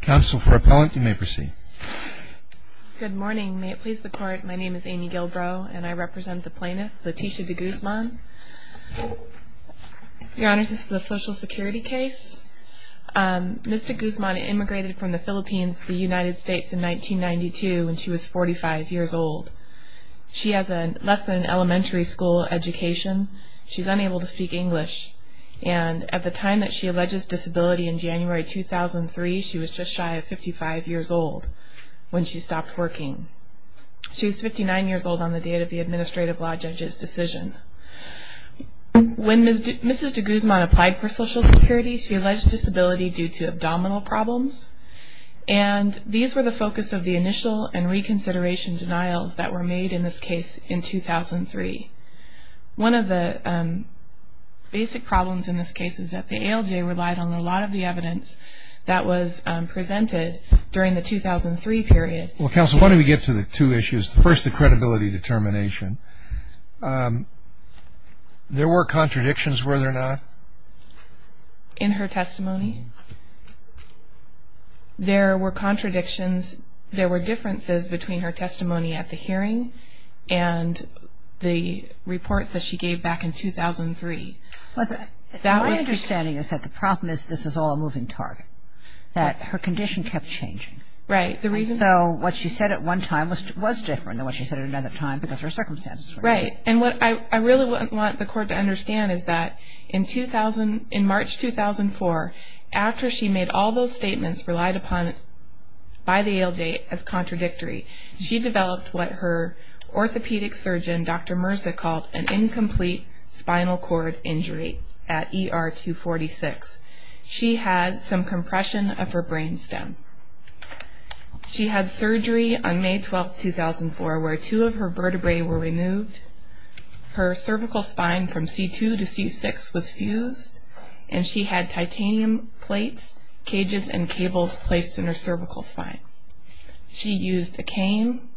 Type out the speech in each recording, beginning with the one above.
Counsel for Appellant, you may proceed. Good morning. May it please the Court, my name is Amy Gilbrow and I represent the plaintiff, Leticia De Guzman. Your Honors, this is a Social Security case. Ms. De Guzman immigrated from the Philippines to the United States in 1992 when she was 45 years old. She has less than an elementary school education. She is unable to speak English and at the time that she alleges disability in January 2003, she was just shy of 55 years old when she stopped working. She was 59 years old on the date of the Administrative Law Judge's decision. When Ms. De Guzman applied for Social Security, she alleged disability due to abdominal problems and these were the focus of the initial and reconsideration denials that were made in this case in 2003. One of the basic problems in this case is that the ALJ relied on a lot of the evidence that was presented during the 2003 period. Well, Counsel, why don't we get to the two issues. First, the credibility determination. There were contradictions, were there not? In her testimony, there were contradictions. There were differences between her testimony at the hearing and the report that she gave back in 2003. My understanding is that the problem is this is all a moving target, that her condition kept changing. Right. So what she said at one time was different than what she said at another time because her circumstances were different. Right. And what I really want the Court to understand is that in March 2004, after she made all those statements relied upon by the ALJ as contradictory, she developed what her orthopedic surgeon, Dr. Mirza, called an incomplete spinal cord injury at ER 246. She had some compression of her brain stem. She had surgery on May 12, 2004, where two of her vertebrae were removed. Her cervical spine from C2 to C6 was fused, and she had titanium plates, cages, and cables placed in her cervical spine. She used a cane.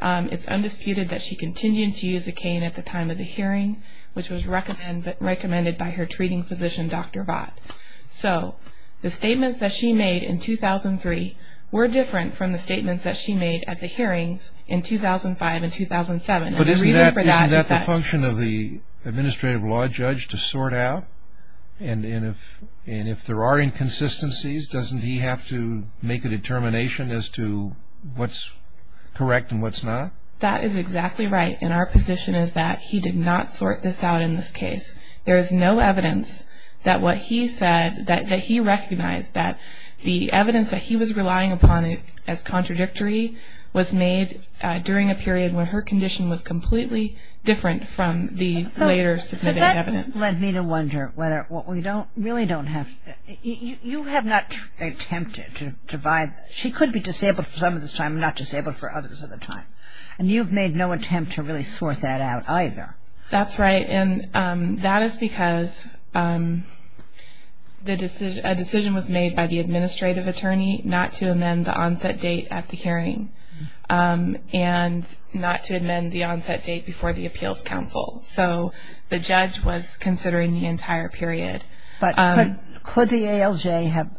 It's undisputed that she continued to use a cane at the time of the hearing, which was recommended by her treating physician, Dr. Vott. So the statements that she made in 2003 were different from the statements that she made at the hearings in 2005 and 2007. But isn't that the function of the administrative law judge to sort out? And if there are inconsistencies, doesn't he have to make a determination as to what's correct and what's not? That is exactly right, and our position is that he did not sort this out in this case. There is no evidence that what he said that he recognized, that the evidence that he was relying upon as contradictory was made during a period when her condition was completely different from the later submitted evidence. But that led me to wonder whether what we don't, really don't have, you have not attempted to divide, she could be disabled for some of this time and not disabled for others of the time, and you've made no attempt to really sort that out either. That's right, and that is because a decision was made by the administrative attorney not to amend the onset date at the hearing and not to amend the onset date before the appeals council. So the judge was considering the entire period. But could the ALJ have,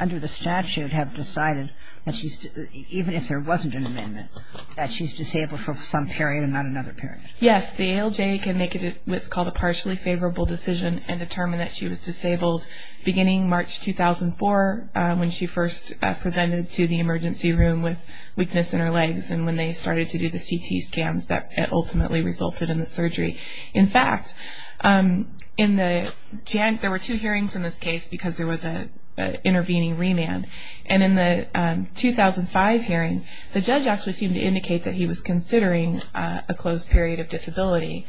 under the statute, have decided that she's, even if there wasn't an amendment, that she's disabled for some period and not another period? Yes, the ALJ can make what's called a partially favorable decision and determine that she was disabled beginning March 2004 when she first presented to the emergency room with weakness in her legs and when they started to do the CT scans that ultimately resulted in the surgery. In fact, there were two hearings in this case because there was an intervening remand. And in the 2005 hearing, the judge actually seemed to indicate that he was considering a closed period of disability.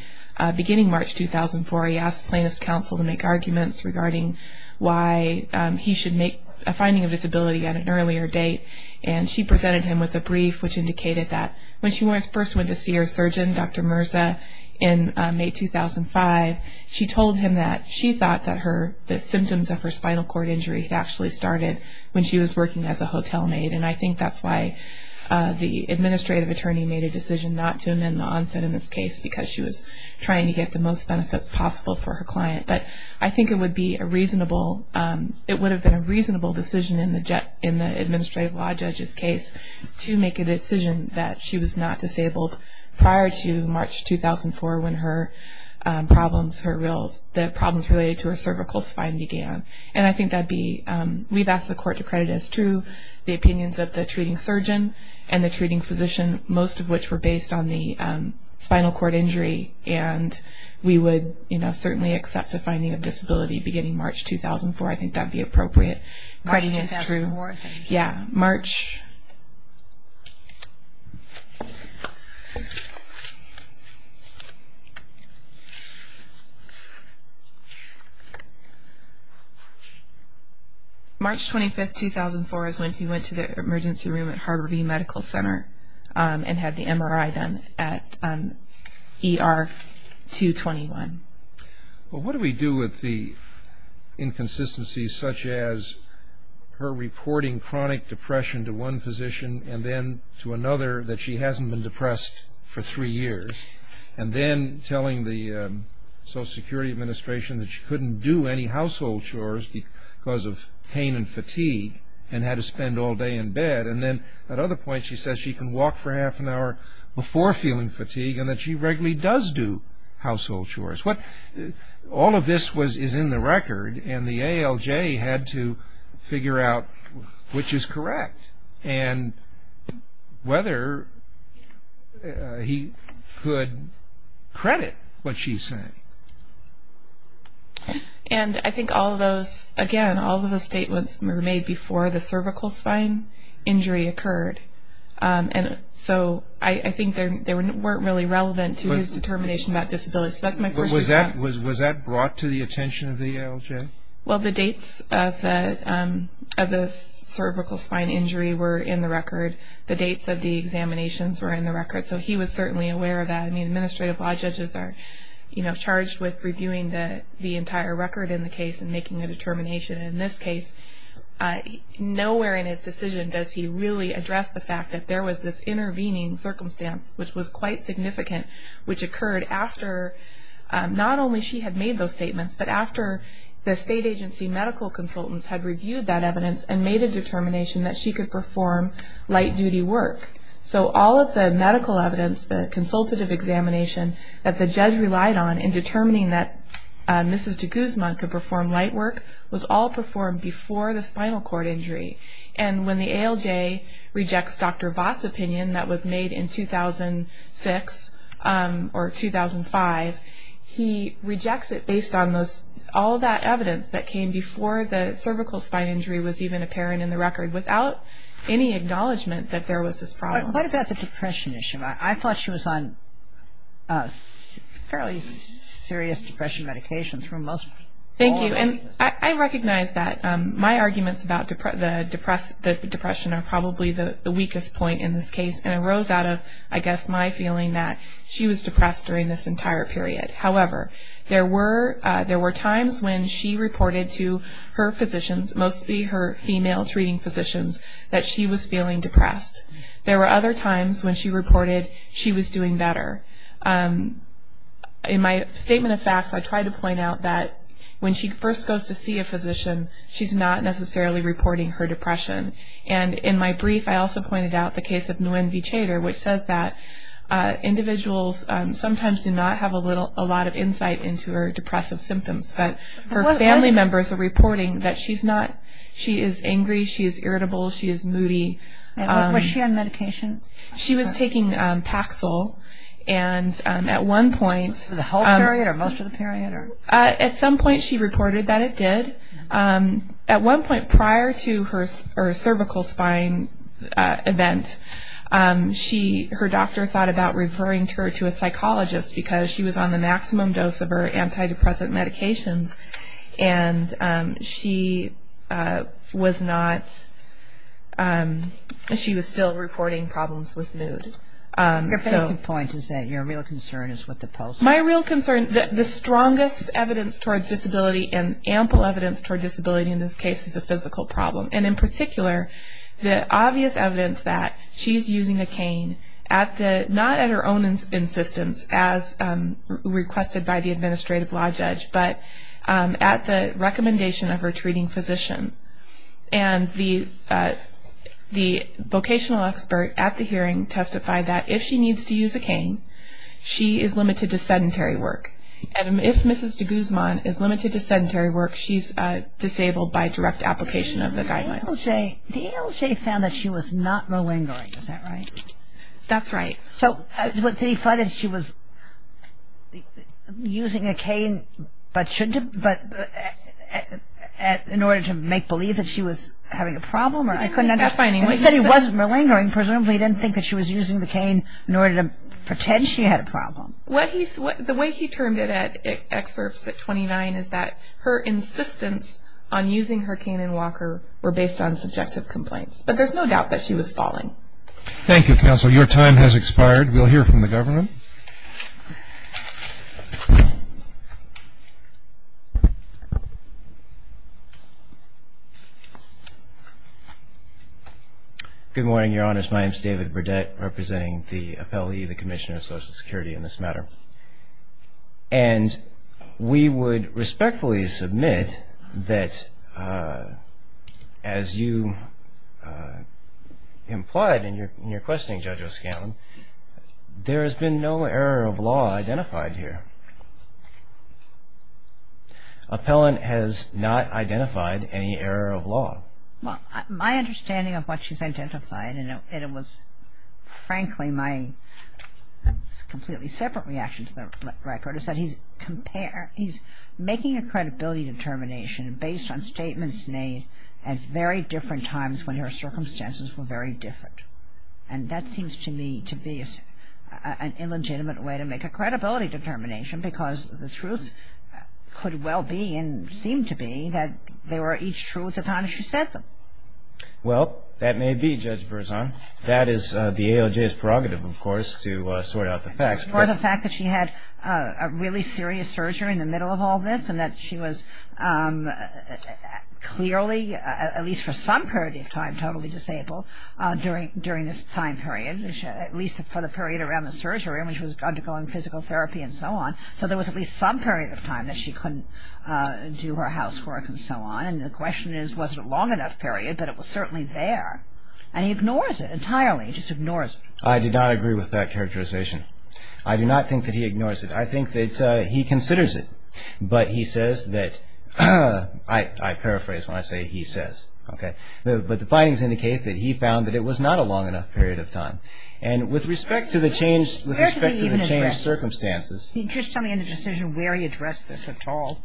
Beginning March 2004, he asked plaintiff's counsel to make arguments regarding why he should make a finding of disability at an earlier date, and she presented him with a brief which indicated that when she first went to see her surgeon, Dr. Mirza, in May 2005, she told him that she thought that the symptoms of her spinal cord injury had actually started when she was working as a hotel maid. And I think that's why the administrative attorney made a decision not to amend the onset in this case because she was trying to get the most benefits possible for her client. But I think it would have been a reasonable decision in the administrative law judge's case to make a decision that she was not disabled prior to March 2004 when the problems related to her cervical spine began. And I think that would be, we've asked the court to credit as true the opinions of the treating surgeon and the treating physician, most of which were based on the spinal cord injury. And we would certainly accept a finding of disability beginning March 2004. I think that would be appropriate. March 2004 is when he went to the emergency room at Harborview Medical Center and had the MRI done at ER 221. Well, what do we do with the inconsistencies such as her reporting chronic depression to one physician and then to another that she hasn't been depressed for three years, and then telling the Social Security Administration that she couldn't do any household chores because of pain and fatigue and had to spend all day in bed, and then at other points she says she can walk for half an hour before feeling fatigue and that she regularly does do household chores. All of this is in the record, and the ALJ had to figure out which is correct and whether he could credit what she's saying. And I think all of those, again, all of those statements were made before the cervical spine injury occurred. And so I think they weren't really relevant to his determination about disability. So that's my question. Was that brought to the attention of the ALJ? Well, the dates of the cervical spine injury were in the record. The dates of the examinations were in the record. So he was certainly aware of that. I mean, administrative law judges are charged with reviewing the entire record in the case and making a determination. In this case, nowhere in his decision does he really address the fact that there was this intervening circumstance, which was quite significant, which occurred after not only she had made those statements, but after the state agency medical consultants had reviewed that evidence and made a determination that she could perform light-duty work. So all of the medical evidence, the consultative examination that the judge relied on in determining that Mrs. de Guzman could perform light work was all performed before the spinal cord injury. And when the ALJ rejects Dr. Voth's opinion that was made in 2006 or 2005, he rejects it based on all that evidence that came before the cervical spine injury was even apparent in the record without any acknowledgment that there was this problem. What about the depression issue? I thought she was on fairly serious depression medications for most all of this. Thank you. And I recognize that. My arguments about the depression are probably the weakest point in this case, and it rose out of, I guess, my feeling that she was depressed during this entire period. However, there were times when she reported to her physicians, mostly her female treating physicians, that she was feeling depressed. There were other times when she reported she was doing better. In my statement of facts, I tried to point out that when she first goes to see a physician, she's not necessarily reporting her depression. And in my brief, I also pointed out the case of Nguyen V. Chater, which says that individuals sometimes do not have a lot of insight into her depressive symptoms, but her family members are reporting that she is angry, she is irritable, she is moody. Was she on medication? She was taking Paxil, and at one point... The whole period or most of the period? At some point she reported that it did. At one point prior to her cervical spine event, her doctor thought about referring her to a psychologist because she was on the maximum dose of her antidepressant medications, and she was still reporting problems with mood. Your basic point is that your real concern is with the pulse? My real concern, the strongest evidence towards disability and ample evidence towards disability in this case is a physical problem. And in particular, the obvious evidence that she's using a cane, not at her own insistence as requested by the administrative law judge, but at the recommendation of her treating physician. And the vocational expert at the hearing testified that if she needs to use a cane, she is limited to sedentary work. And if Mrs. de Guzman is limited to sedentary work, she's disabled by direct application of the guidelines. The ALJ found that she was not malingering, is that right? That's right. So did he find that she was using a cane, but in order to make believe that she was having a problem? He said it wasn't malingering. Presumably he didn't think that she was using the cane in order to pretend she had a problem. The way he termed it at excerpts at 29 is that her insistence on using her cane in Walker were based on subjective complaints. But there's no doubt that she was falling. Thank you, Counsel. Your time has expired. We'll hear from the government. Good morning, Your Honors. My name is David Burdett, representing the appellee, the Commissioner of Social Security in this matter. And we would respectfully submit that as you implied in your questioning, Judge O'Scallion, there has been no error of law identified here. Appellant has not identified any error of law. My understanding of what she's identified, and it was frankly my completely separate reaction to the record, is that he's making a credibility determination based on statements made at very different times when her circumstances were very different. And that seems to me to be an illegitimate way to make a credibility determination because the truth could well be and seemed to be that they were each truth upon which she said them. Well, that may be, Judge Berzon. That is the ALJ's prerogative, of course, to sort out the facts. For the fact that she had a really serious surgery in the middle of all this and that she was clearly, at least for some period of time, totally disabled during this time period, at least for the period around the surgery when she was undergoing physical therapy and so on. So there was at least some period of time that she couldn't do her housework and so on. And the question is, was it a long enough period? But it was certainly there. And he ignores it entirely. He just ignores it. I did not agree with that characterization. I do not think that he ignores it. I think that he considers it. But he says that, I paraphrase when I say he says, okay. But the findings indicate that he found that it was not a long enough period of time. And with respect to the change circumstances. Can you just tell me in the decision where he addressed this at all?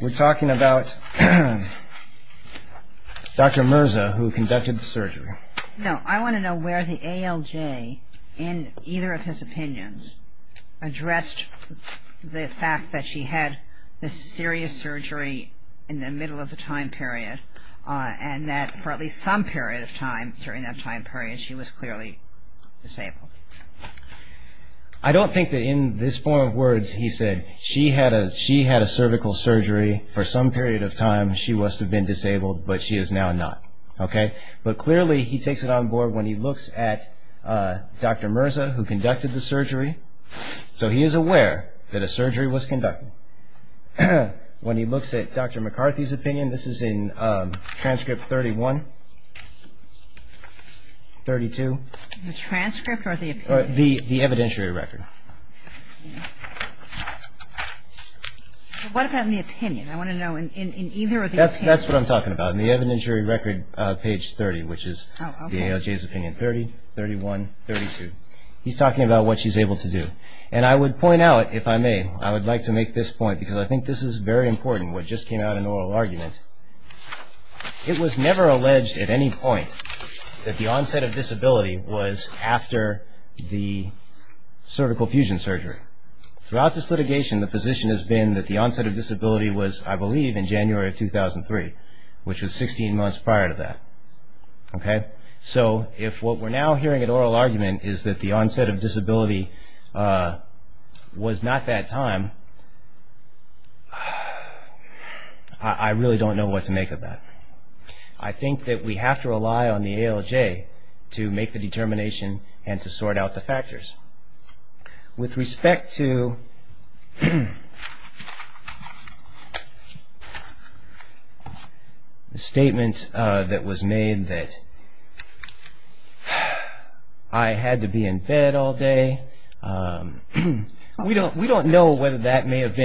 We're talking about Dr. Mirza, who conducted the surgery. No, I want to know where the ALJ, in either of his opinions, addressed the fact that she had this serious surgery in the middle of the time period and that for at least some period of time during that time period she was clearly disabled. I don't think that in this form of words he said, she had a cervical surgery for some period of time. She must have been disabled, but she is now not. But clearly he takes it on board when he looks at Dr. Mirza, who conducted the surgery. So he is aware that a surgery was conducted. When he looks at Dr. McCarthy's opinion, this is in transcript 31, 32. The transcript or the opinion? The evidentiary record. What about in the opinion? I want to know in either of the opinions. That's what I'm talking about. In the evidentiary record, page 30, which is the ALJ's opinion, 30, 31, 32. He's talking about what she's able to do. And I would point out, if I may, I would like to make this point, because I think this is very important, what just came out of an oral argument. It was never alleged at any point that the onset of disability was after the cervical fusion surgery. Throughout this litigation, the position has been that the onset of disability was, I believe, in January of 2003, which was 16 months prior to that. So if what we're now hearing at oral argument is that the onset of disability was not that time, I really don't know what to make of that. I think that we have to rely on the ALJ to make the determination and to sort out the factors. With respect to the statement that was made that I had to be in bed all day, we don't know whether that may have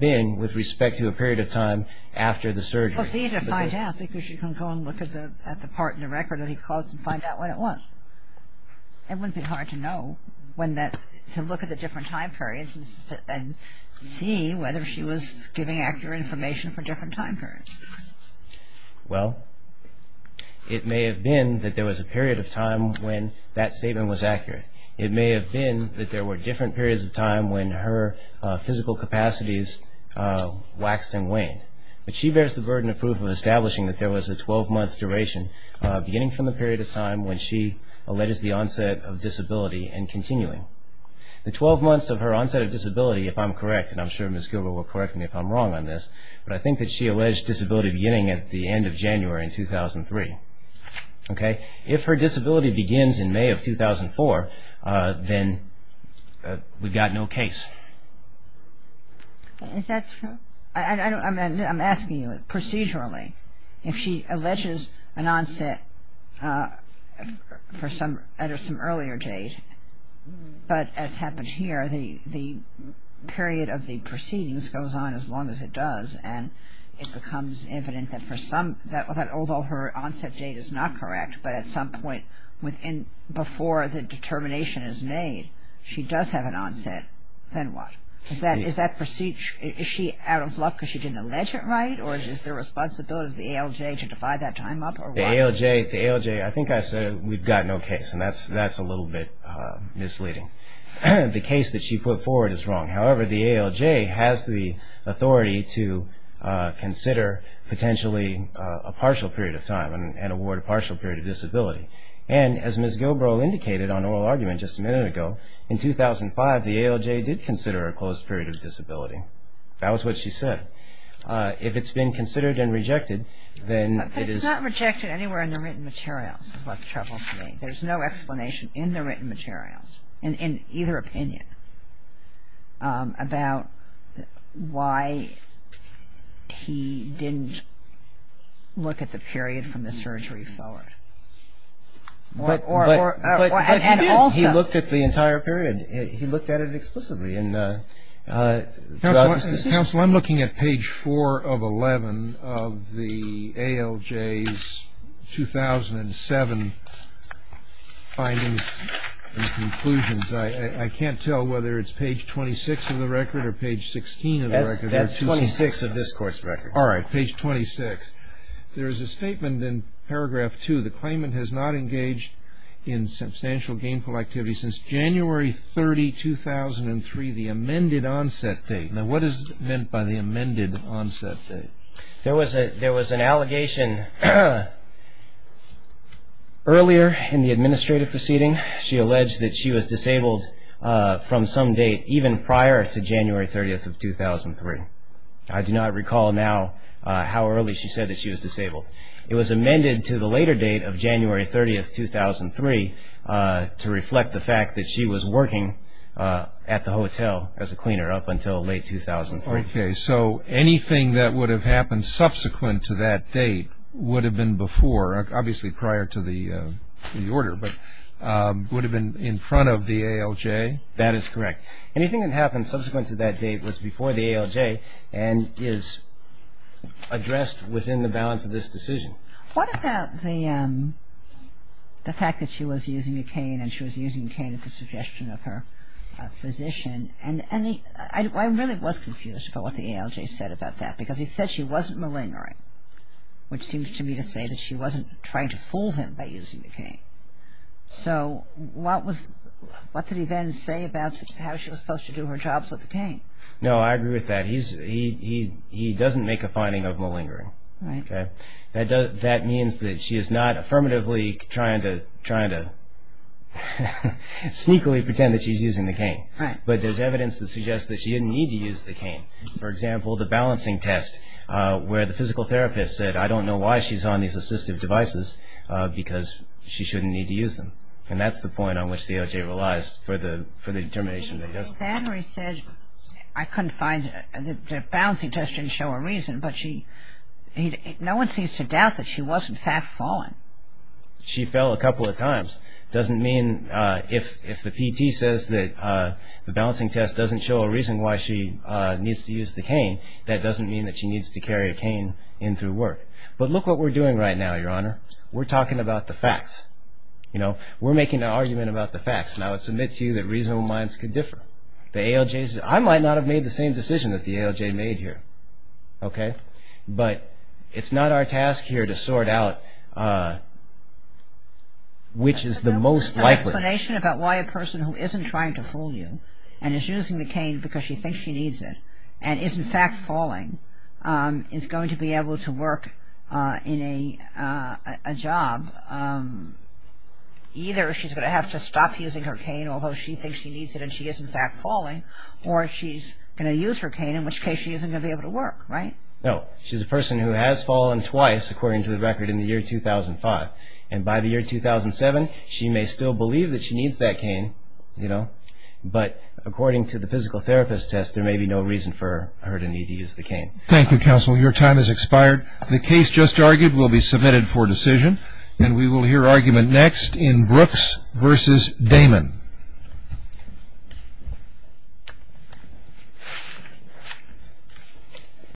been with respect to a period of time after the surgery. Well, for you to find out, I think you should go and look at the part in the record that he calls and find out what it was. It would be hard to know when that, to look at the different time periods and see whether she was giving accurate information for different time periods. Well, it may have been that there was a period of time when that statement was accurate. It may have been that there were different periods of time when her physical capacities waxed and waned. But she bears the burden of proof of establishing that there was a 12-month duration, beginning from the period of time when she alleges the onset of disability and continuing. The 12 months of her onset of disability, if I'm correct, and I'm sure Ms. Gilbert will correct me if I'm wrong on this, but I think that she alleged disability beginning at the end of January in 2003. If her disability begins in May of 2004, then we've got no case. Is that true? I'm asking you procedurally. If she alleges an onset at some earlier date, but as happened here, the period of the proceedings goes on as long as it does, and it becomes evident that although her onset date is not correct, but at some point before the determination is made she does have an onset, then what? Is that procedure, is she out of luck because she didn't allege it right or is it the responsibility of the ALJ to divide that time up or what? The ALJ, I think I said we've got no case, and that's a little bit misleading. The case that she put forward is wrong. However, the ALJ has the authority to consider potentially a partial period of time and award a partial period of disability. And as Ms. Gilbert indicated on oral argument just a minute ago, in 2005 the ALJ did consider a closed period of disability. That was what she said. If it's been considered and rejected, then it is. But it's not rejected anywhere in the written materials is what troubles me. There's no explanation in the written materials, in either opinion, about why he didn't look at the period from the surgery forward. But he did. He looked at the entire period. He looked at it explicitly throughout this decision. Counsel, I'm looking at page 4 of 11 of the ALJ's 2007 findings and conclusions. I can't tell whether it's page 26 of the record or page 16 of the record. That's 26 of this Court's record. All right, page 26. There is a statement in paragraph 2. The claimant has not engaged in substantial gainful activity since January 30, 2003, the amended onset date. Now, what is meant by the amended onset date? There was an allegation earlier in the administrative proceeding. She alleged that she was disabled from some date even prior to January 30, 2003. I do not recall now how early she said that she was disabled. It was amended to the later date of January 30, 2003, to reflect the fact that she was working at the hotel as a cleaner up until late 2003. Okay, so anything that would have happened subsequent to that date would have been before, obviously prior to the order, but would have been in front of the ALJ? That is correct. Anything that happened subsequent to that date was before the ALJ and is addressed within the balance of this decision. What about the fact that she was using a cane and she was using a cane at the suggestion of her physician? And I really was confused about what the ALJ said about that because he said she wasn't malingering, which seems to me to say that she wasn't trying to fool him by using the cane. So what did he then say about how she was supposed to do her jobs with the cane? No, I agree with that. He doesn't make a finding of malingering. That means that she is not affirmatively trying to sneakily pretend that she's using the cane, but there's evidence that suggests that she didn't need to use the cane. For example, the balancing test where the physical therapist said, I don't know why she's on these assistive devices because she shouldn't need to use them. And that's the point on which the ALJ relies for the determination that doesn't. But he said, I couldn't find it, the balancing test didn't show a reason, but no one seems to doubt that she was in fact falling. She fell a couple of times. Doesn't mean if the PT says that the balancing test doesn't show a reason why she needs to use the cane, that doesn't mean that she needs to carry a cane in through work. But look what we're doing right now, Your Honor. We're talking about the facts. We're making an argument about the facts. And I would submit to you that reasonable minds could differ. I might not have made the same decision that the ALJ made here. But it's not our task here to sort out which is the most likely. Can you give us an explanation about why a person who isn't trying to fool you and is using the cane because she thinks she needs it and is in fact falling, is going to be able to work in a job? Either she's going to have to stop using her cane, although she thinks she needs it and she is in fact falling, or she's going to use her cane, in which case she isn't going to be able to work, right? No. She's a person who has fallen twice, according to the record, in the year 2005. And by the year 2007, she may still believe that she needs that cane, you know, but according to the physical therapist's test, there may be no reason for her to need to use the cane. Thank you, counsel. Your time has expired. The case just argued will be submitted for decision, and we will hear argument next in Brooks v. Damon.